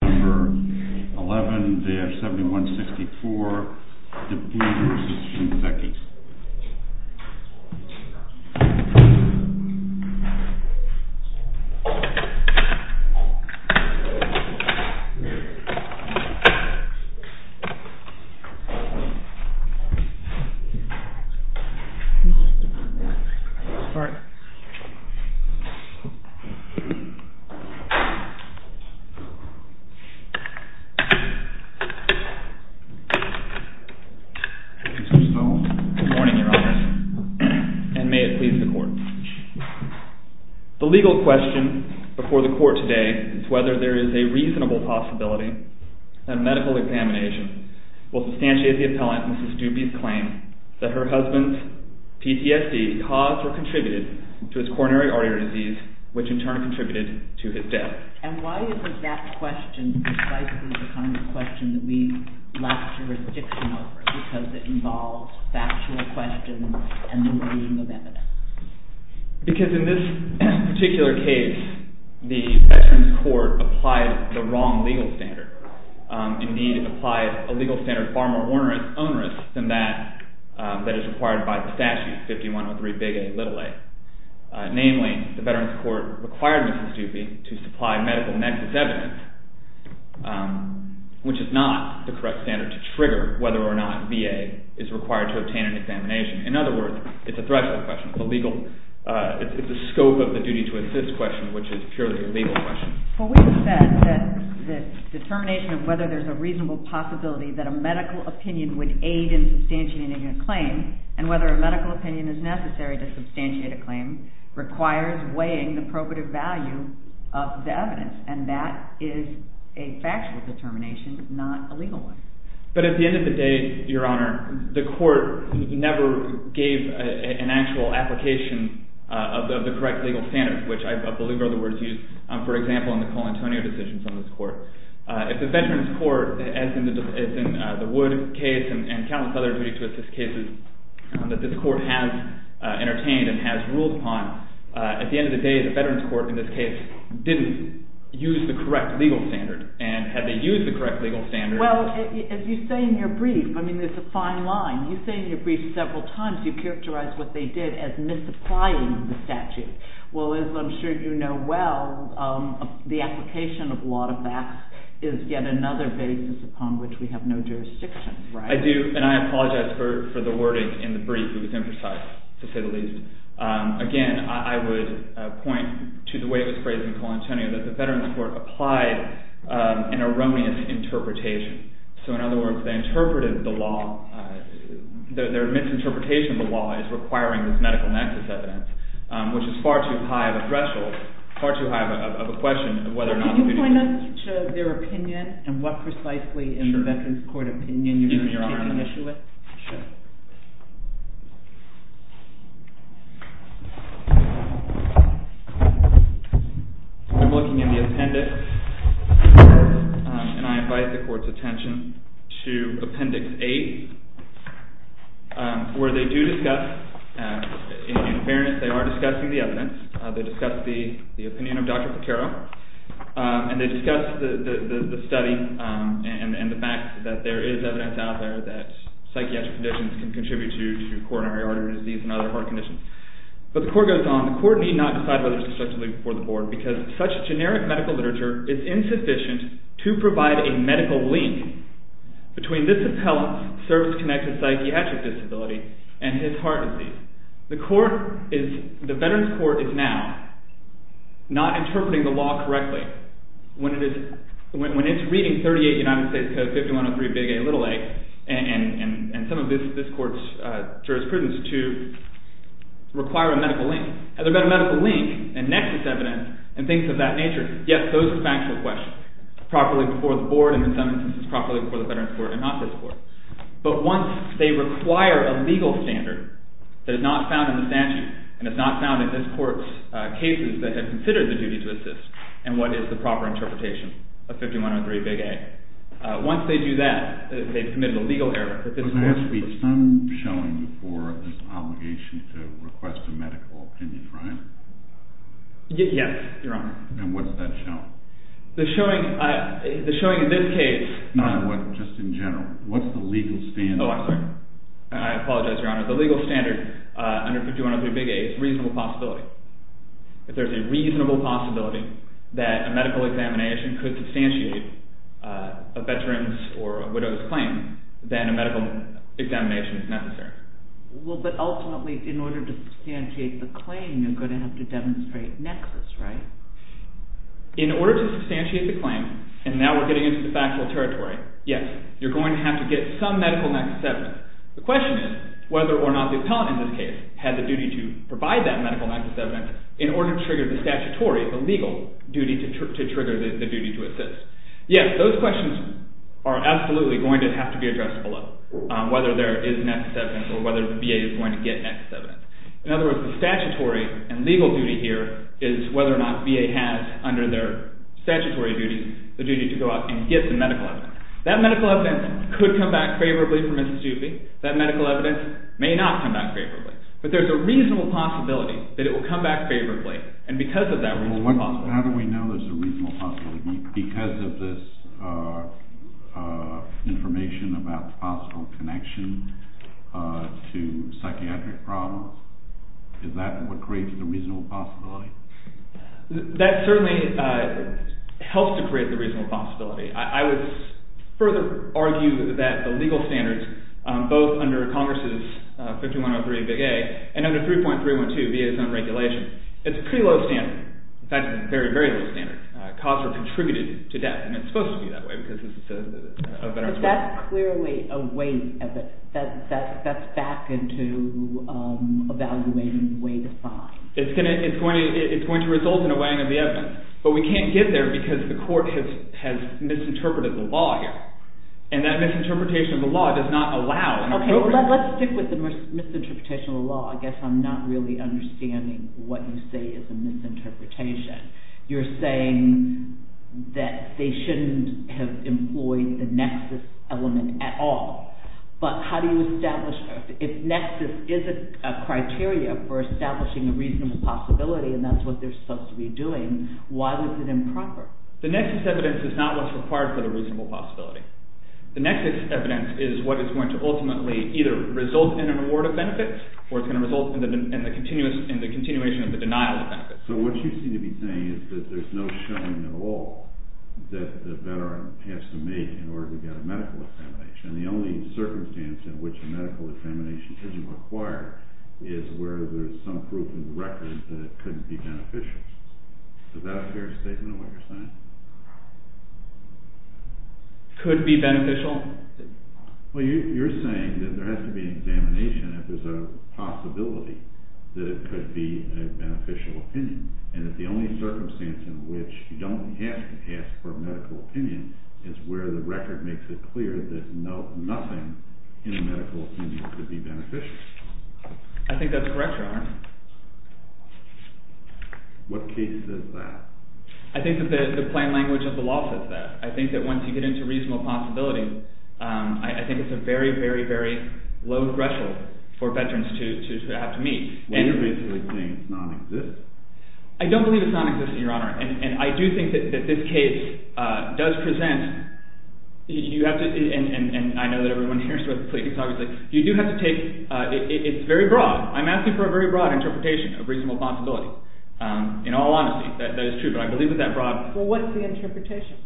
suspicion section. Motion and half-breaks unanimously. The legal question before the court today is whether there is a reasonable possibility that medical examination will substantiate the appellant, Mrs. Doopey's claim that her husband's PTSD caused or contributed to his coronary artery disease, which in turn contributed to his death. And why is it that question precisely the kind of question that we lack jurisdiction over because it involves factual questions and the looming of evidence? Because in this particular case, the Veterans Court applied the wrong legal standard. Indeed, it applied a legal standard far more onerous than that that is required by the statute, 51.3 big A little a. Namely, the Veterans Court required Mrs. Doopey to supply medical nexus evidence, which is not the correct standard to trigger whether or not VA is required to obtain an examination. In other words, it's a threshold question, a legal, it's the scope of the duty to assist question, which is purely a legal question. Well, we've said that the determination of whether there's a reasonable possibility that a medical opinion would aid in substantiating a claim and whether a medical opinion is substantiated claim requires weighing the probative value of the evidence. And that is a factual determination, not a legal one. But at the end of the day, Your Honor, the court never gave an actual application of the correct legal standards, which I believe are the words used, for example, in the Colantonio decisions on this court. If the Veterans Court, as in the Wood case and countless other cases that this court has entertained and has ruled upon, at the end of the day, the Veterans Court, in this case, didn't use the correct legal standard. And had they used the correct legal standard? Well, as you say in your brief, I mean, there's a fine line. You say in your brief several times you characterize what they did as misapplying the statute. Well, as I'm sure you know well, the application of a lot of facts is yet another basis upon which we have no jurisdiction, right? I do. And I apologize for the wording in the brief. It was imprecise, to say the least. Again, I would point to the way it was phrased in Colantonio, that the Veterans Court applied an erroneous interpretation. So in other words, they interpreted the law, their misinterpretation of the law, as requiring this medical nexus evidence, which is far too high of a threshold, far too high of a question of whether or not. Can you point us to their opinion and what precisely in the Veterans Court opinion you are on an issue with? I'm looking in the appendix, and I invite the court's attention to Appendix 8, where they do discuss, in fairness, they are discussing the evidence. They discuss the opinion of Dr. Patero, and they discuss the study and the fact that there is evidence out there that psychiatric conditions can contribute to coronary artery disease and other heart conditions. But the court goes on. The court need not decide whether to construct a link before the board, because such generic medical literature is insufficient to provide a medical link between this appellant's service-connected psychiatric disability and his heart disease. The court is, the Veterans Court is now not interpreting the law correctly. When it's reading 38 United States Code 5103, Big A, Little A, and some of this court's jurisprudence to require a medical link, and they've got a medical link, and nexus evidence, and things of that nature, yes, those are factual questions, properly before the board, and in some instances, properly before the Veterans Court, and not this court. But once they require a legal standard that is not found in the statute, and what is the proper interpretation of 5103, Big A, once they do that, they've committed a legal error, but this court... But there has to be some showing for this obligation to request a medical opinion, right? Yes, Your Honor. And what does that show? The showing, the showing in this case... Not what, just in general. What's the legal standard? Oh, I'm sorry. I apologize, Your Honor. The legal standard under 5103, Big A, is a reasonable possibility. If there's a reasonable possibility that a medical examination could substantiate a veteran's or a widow's claim, then a medical examination is necessary. Well, but ultimately, in order to substantiate the claim, you're going to have to demonstrate nexus, right? In order to substantiate the claim, and now we're getting into the factual territory, yes, you're going to have to get some medical nexus evidence. The question is whether or not the appellant in this case has a duty to provide that medical nexus evidence in order to trigger the statutory, the legal duty to trigger the duty to assist. Yes, those questions are absolutely going to have to be addressed below, whether there is nexus evidence or whether the VA is going to get nexus evidence. In other words, the statutory and legal duty here is whether or not VA has, under their statutory duties, the duty to go out and get the medical evidence. That medical evidence could come back favorably for Mississippi. That medical evidence may not come back favorably. But there's a reasonable possibility that it will come back favorably, and because of that reasonable possibility. Well, how do we know there's a reasonable possibility? Because of this information about possible connection to psychiatric problems? Is that what creates the reasonable possibility? That certainly helps to create the reasonable possibility. I would further argue that the legal standards, both under Congress's 5103 Big A and under 3.312, VA's own regulation, it's a pretty low standard. In fact, it's a very, very low standard. Costs are contributed to debt, and it's supposed to be that way because it's a veteran's right. But that's clearly a way, that's back into evaluating the way to find. It's going to result in a weighing of the evidence. But we can't get there because the misinterpretation of the law does not allow. Okay, let's stick with the misinterpretation of the law. I guess I'm not really understanding what you say is a misinterpretation. You're saying that they shouldn't have employed the nexus element at all. But how do you establish that? If nexus is a criteria for establishing a reasonable possibility, and that's what they're supposed to be doing, why is it improper? The nexus evidence is not what's required for the reasonable possibility. The nexus evidence is what is going to ultimately either result in an award of benefits, or it's going to result in the continuation of the denial of benefits. So what you seem to be saying is that there's no showing at all that the veteran has to make in order to get a medical examination. And the only circumstance in which a medical examination isn't required is where there's some proof in the record that it couldn't be beneficial. Is that a fair statement, what you're saying? Could be beneficial? Well, you're saying that there has to be an examination if there's a possibility that it could be a beneficial opinion, and that the only circumstance in which you don't have to ask for a medical opinion is where the record makes it clear that nothing in a medical opinion could be beneficial. I think that's correct, Your Honor. What case says that? I think that the plain language of the law says that. I think that once you get into reasonable possibility, I think it's a very, very, very low threshold for veterans to have to meet. Well, you're basically saying it's nonexistent. I don't believe it's nonexistent, Your Honor. And I do think that this case does present – you have to – and I know that everyone here is supposed to please, obviously – you do have to take – it's very broad. I'm asking for a very broad interpretation of reasonable possibility. In all honesty, that is true, but I believe that that broad – Well, what's the interpretation?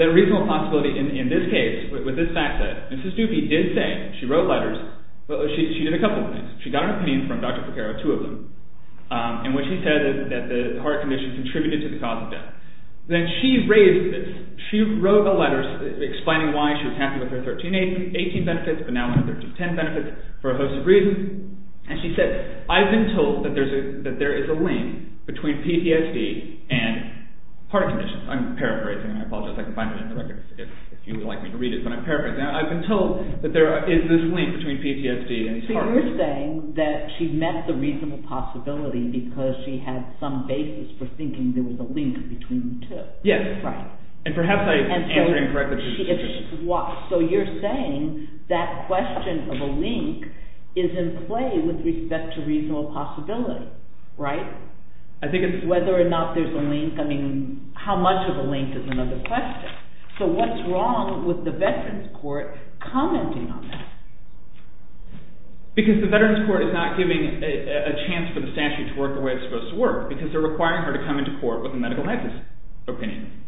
That reasonable possibility in this case, with this fact set, Mrs. Dupie did say – she wrote letters, but she did a couple of things. She got an opinion from Dr. Porcaro, two of them, and what she said is that the heart condition contributed to the cause of death. Then she raised – she wrote the letters explaining why she was happy with her 1318 benefits, but now 1310 benefits for a host of reasons. And she said, I've been told that there is a link between PTSD and heart conditions. I'm paraphrasing. I apologize if I can find it in the record if you would like me to read it, but I'm paraphrasing. I've been told that there is this link between PTSD and these heart conditions. So you're saying that she met the reasonable possibility because she had some basis for the link between the two. Yes. Right. And perhaps I answered incorrectly. So you're saying that question of a link is in play with respect to reasonable possibility, right? I think it's – Whether or not there's a link – I mean, how much of a link is another question. So what's wrong with the Veterans Court commenting on that? Because the Veterans Court is not giving a chance for the statute to work the way it's a medical nexus opinion.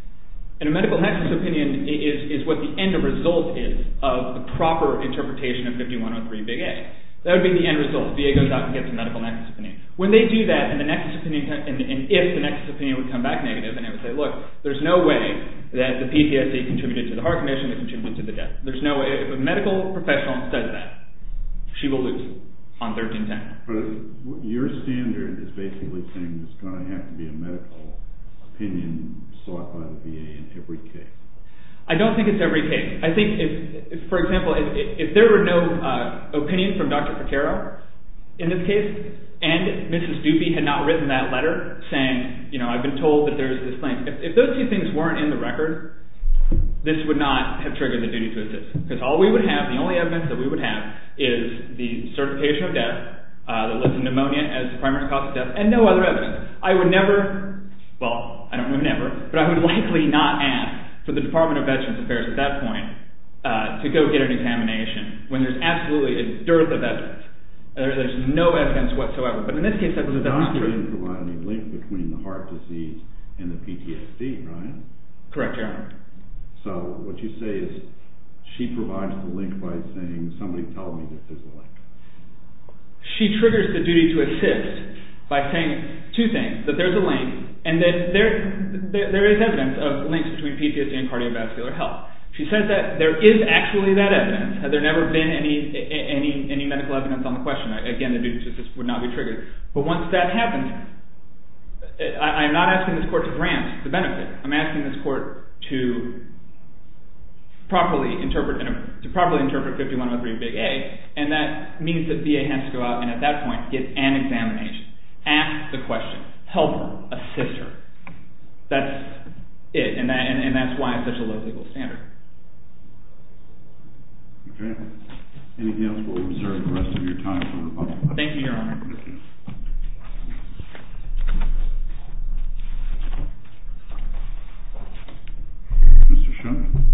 And a medical nexus opinion is what the end result is of the proper interpretation of 5103 big A. That would be the end result. VA goes out and gets a medical nexus opinion. When they do that, and the nexus opinion – and if the nexus opinion would come back negative, then it would say, look, there's no way that the PTSD contributed to the heart condition, it contributed to the death. There's no way – if a medical professional says that, she will lose on 1310. But your standard is basically saying there's going to have to be a medical opinion sought by the VA in every case. I don't think it's every case. I think if, for example, if there were no opinion from Dr. Pacero in this case, and Mrs. Doopey had not written that letter saying, you know, I've been told that there's this link. If those two things weren't in the record, this would not have triggered the duty to assist. Because all we would have, the only evidence would be the location of death, the list of pneumonia as the primary cause of death, and no other evidence. I would never – well, I don't mean never, but I would likely not ask for the Department of Veterans Affairs at that point to go get an examination when there's absolutely a dearth of evidence, and there's no evidence whatsoever. But in this case, that's not true. You're not going to provide any link between the heart disease and the PTSD, right? Correct, Your Honor. So what you say is she provides the link by saying, somebody tell me that there's a link. She triggers the duty to assist by saying two things, that there's a link, and that there is evidence of links between PTSD and cardiovascular health. She says that there is actually that evidence. Had there never been any medical evidence on the question, again, the duty to assist would not be triggered. But once that happens, I am not asking this court to properly interpret 5103 Big A, and that means that VA has to go out and at that point get an examination, ask the question, help her, assist her. That's it, and that's why it's such a low legal standard. Okay. Anything else, we'll reserve the rest of your time for rebuttal. Thank you, Your Honor. Mr. Schoen.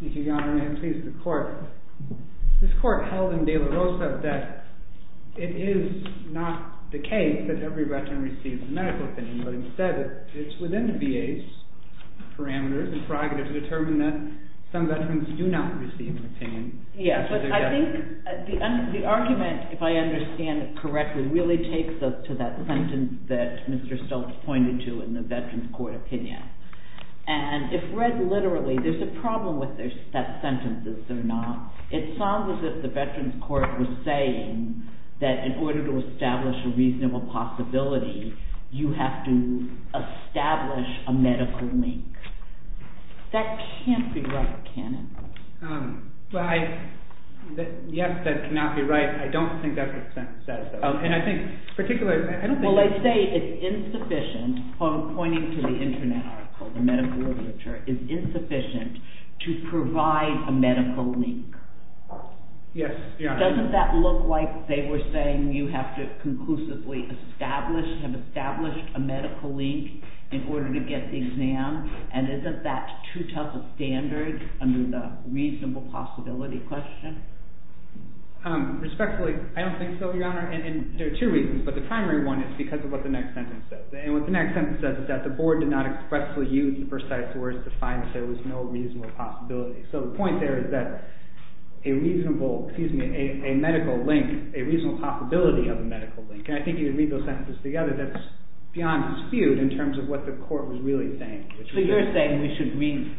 Thank you, Your Honor, and may it please the court. This court held in De La Rosa that it is not the case that every veteran receives a medical opinion, but instead it's within the VA's parameters and prerogatives to determine that some veterans do not receive an opinion. Yes, but I think the argument, if I understand it correctly, really takes us to that sentence that Mr. Stokes pointed to in the veterans' court opinion. And if read literally, there's a problem with that sentence, is there not? It sounds as if the veterans' court was saying that in order to establish a reasonable possibility, you have to establish a medical link. That can't be right, can it? Well, yes, that cannot be right. I don't think that's what the sentence says. And I think particularly, I don't think... Well, they say it's insufficient, pointing to the internet article, the medical literature, is insufficient to provide a medical link. Yes, Your Honor. Doesn't that look like they were saying you have to conclusively establish, have established a medical link in order to get the exam? And isn't that too tough a standard under the reasonable possibility question? Respectfully, I don't think so, Your Honor. And there are two reasons, but the primary one is because of what the next sentence says. And what the next sentence says is that the board did not expressly use the first set of words to find that there was no reasonable possibility. So the point there is that a reasonable, excuse me, a medical link, a reasonable possibility of a medical link. And I think if you read those sentences together, that's beyond dispute in terms of what the court was really saying. So you're saying we should read,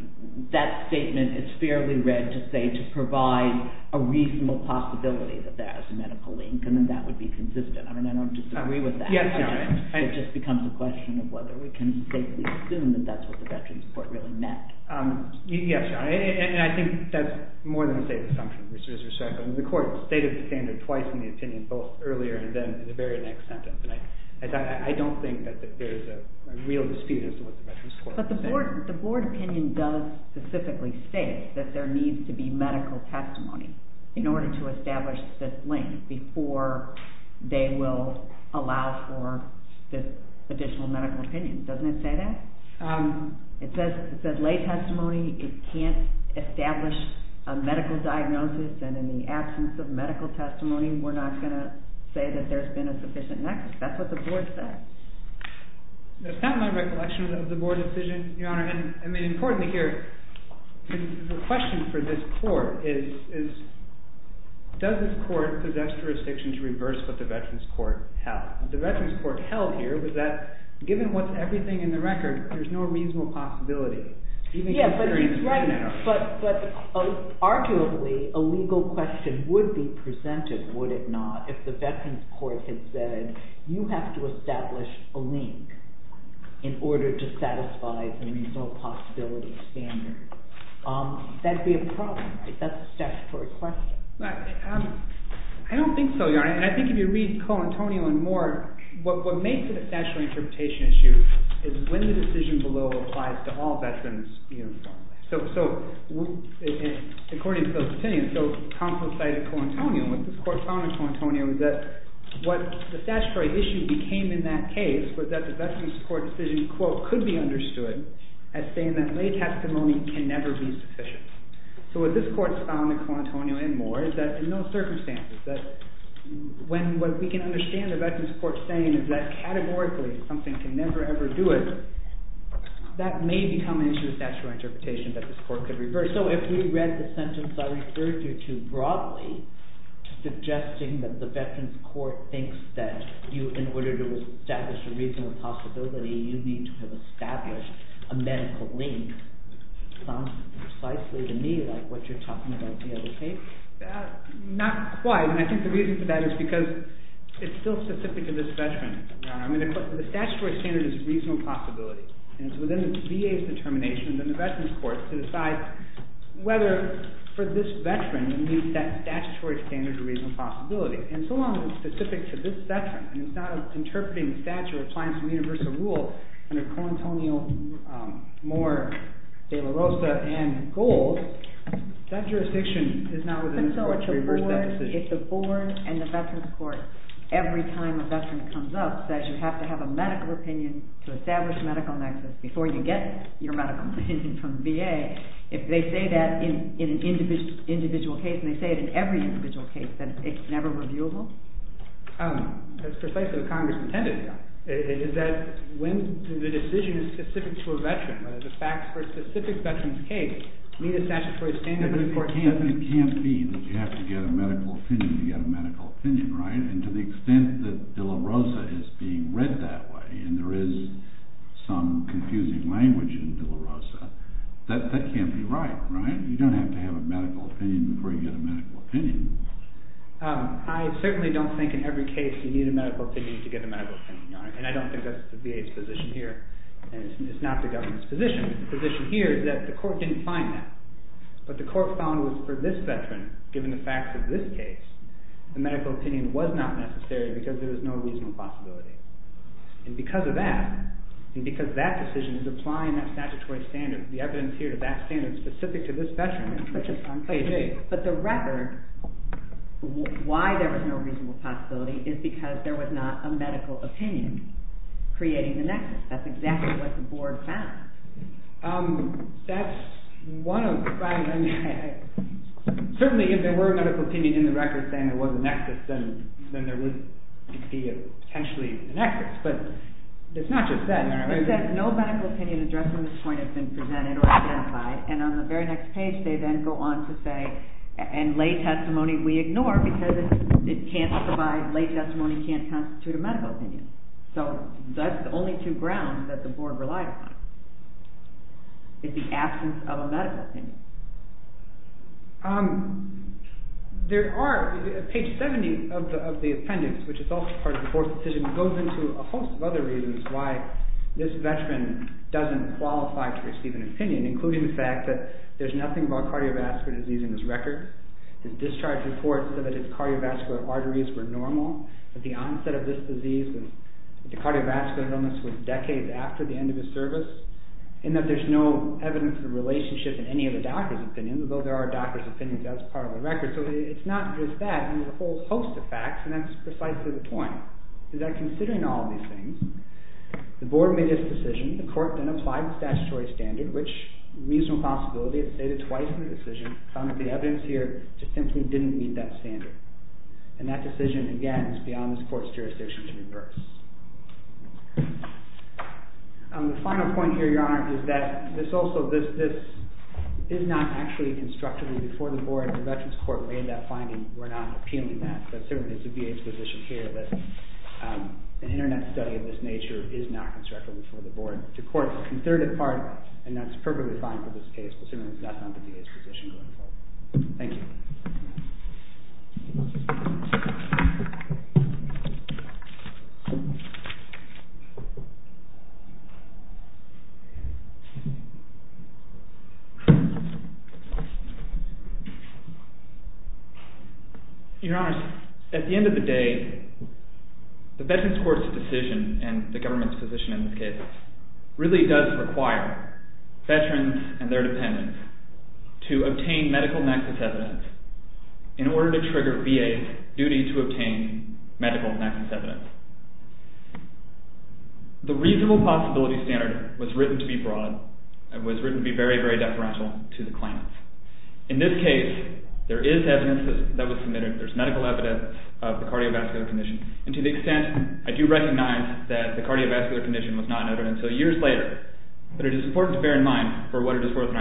that statement is fairly read to say to provide a reasonable possibility that there is a medical link, and then that would be consistent. I mean, I don't disagree with that. Yes, Your Honor. It just becomes a question of whether we can safely assume that that's what the Veterans Court really meant. Yes, Your Honor. And I think that's more than a stated assumption. The court stated the standard twice in the opinion, both earlier and then in the very next sentence. And I don't think that there's a real dispute as to what the Veterans Court was saying. But the board opinion does specifically state that there needs to be medical testimony in order to establish this link before they will allow for this additional medical opinion. Doesn't it say that? It says lay testimony. It can't establish a medical diagnosis. And in the absence of medical testimony, we're not going to say that there's been a sufficient next. That's what the board said. That's not my recollection of the board decision, Your Honor. And I mean, importantly here, the question for this court is, does this court possess jurisdiction to reverse what the Veterans Court held? The Veterans Court held here was that given what's everything in the record, there's no reasonable possibility. Yes, but he's right. But arguably, a legal question would be presented, would it not, if the Veterans Court had said, you have to establish a link in order to satisfy the reasonable possibility standard. That'd be a problem, right? That's a statutory question. I don't think so, Your Honor. I think if you read Coantonial and more, what makes it a statutory interpretation issue is when the decision below applies to all veterans uniformly. So according to those opinions, so Compton cited Coantonial. What this court found in Coantonial was that what the statutory issue became in that case was that the Veterans Court decision, quote, could be understood as saying that lay testimony can never be sufficient. So what this court found in Coantonial and more is that in those circumstances, that when what we can understand the Veterans Court saying is that categorically something can never ever do it, that may become an issue of statutory interpretation that this court could reverse. So if we read the sentence I referred you to broadly, suggesting that the Veterans Court thinks that you, in order to establish a reasonable possibility, you need to have established a medical link, sounds precisely to me like what you're talking about in the other case. Not quite. And I think the reason for that is because it's still specific to this case. The statutory standard is reasonable possibility. And it's within the VA's determination than the Veterans Court to decide whether for this veteran, it meets that statutory standard of reasonable possibility. And so long as it's specific to this veteran, and it's not interpreting the statute or applying some universal rule under Coantonial more de la Rosa and gold, that jurisdiction is not within this court to reverse that decision. But so if the board and the Veterans Court, every time a veteran comes up, says you have to have a medical opinion to establish a medical nexus before you get your medical opinion from the VA, if they say that in an individual case, and they say it in every individual case, that it's never reviewable? That's precisely what Congress intended here, is that when the decision is specific to a veteran, whether the facts for a specific veteran's case meet a statutory standard of important possibility. It can't be that you have to get a medical opinion to get a medical opinion, right? And to the extent that de la Rosa is being read that way, and there is some confusing language in de la Rosa, that can't be right, right? You don't have to have a medical opinion before you get a medical opinion. I certainly don't think in every case you need a medical opinion to get a medical opinion, Your Honor. And I don't think that's the VA's position here. And it's not the government's position. But the position here is that the court didn't find that. But the court found was for this veteran, given the facts of this case, the medical opinion was not necessary because there was no reasonable possibility. And because of that, and because that decision is applying that statutory standard, the evidence here to that standard specific to this veteran, which is on page 8. But the record, why there was no reasonable possibility, is because there was not a medical opinion creating the nexus. That's exactly what the board found. That's one of the problems. Certainly, if there were a medical opinion in the record saying there was a nexus, then there would be potentially a nexus. But it's not just that, Your Honor. It's that no medical opinion addressing this point has been presented or clarified. And on the very next page, they then go on to say, and lay testimony we ignore because it can't provide, lay testimony can't constitute a medical opinion. So that's the only two things we can rely upon is the absence of a medical opinion. There are, page 70 of the appendix, which is also part of the fourth decision, goes into a host of other reasons why this veteran doesn't qualify to receive an opinion, including the fact that there's nothing about cardiovascular disease in this record. The discharge report said that his cardiovascular arteries were normal, that the onset of this disease, the in that there's no evidence of a relationship in any of the doctor's opinions, although there are doctor's opinions, that's part of the record. So it's not just that. There's a whole host of facts, and that's precisely the point. Is that considering all these things, the board made this decision, the court then applied the statutory standard, which reasonable possibility is stated twice in the decision, found that the evidence here just simply didn't meet that standard. And that decision, again, is beyond this court's jurisdiction to reverse. The final point here, Your Honor, is that this also, this is not actually constructively before the board. The veteran's court made that finding. We're not appealing that, but certainly it's the VA's position here that an internet study of this nature is not constructively before the board. The court, in third part, and that's perfectly fine for this case, but certainly it's not the VA's position going forward. Thank you. Your Honor, at the end of the day, the veteran's court's decision, and the government's position in this case, really does require veterans and their dependents to obtain medical nexus evidence in order to trigger VA's duty to obtain medical nexus evidence. The reasonable possibility standard was written to be broad. It was written to be very, very deferential to the claimants. In this case, there is evidence that was submitted. There's medical evidence of the cardiovascular condition, and to the extent I do recognize that the cardiovascular condition was not noted until years later, but it is important to bear in mind for what the veteran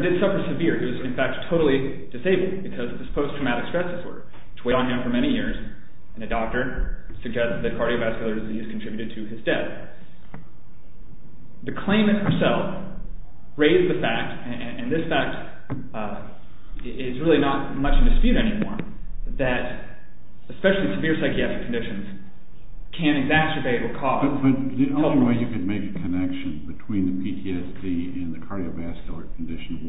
did suffer severe. He was, in fact, totally disabled because of his post-traumatic stress disorder, which weighed on him for many years, and a doctor suggested that cardiovascular disease contributed to his death. The claimant herself raised the fact, and this fact is really not much in dispute anymore, that especially severe psychiatric conditions can exacerbate or cause... But the only way you could make a connection between the PTSD and the cardiovascular condition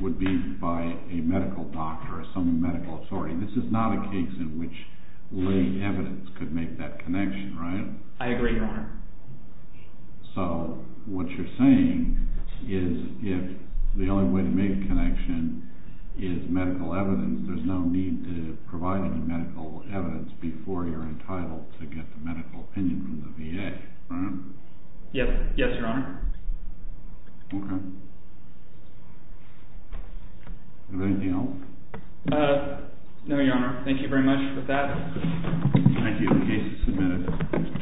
would be by a medical doctor or some medical authority. This is not a case in which lay evidence could make that connection, right? I agree, Your Honor. So, what you're saying is if the only way to make a connection is medical evidence, there's no need to provide any medical evidence before you're entitled to get the medical opinion from the VA, right? Yes, Your Honor. Okay. Is there anything else? No, Your Honor. Thank you very much for that. Thank you. The case is submitted.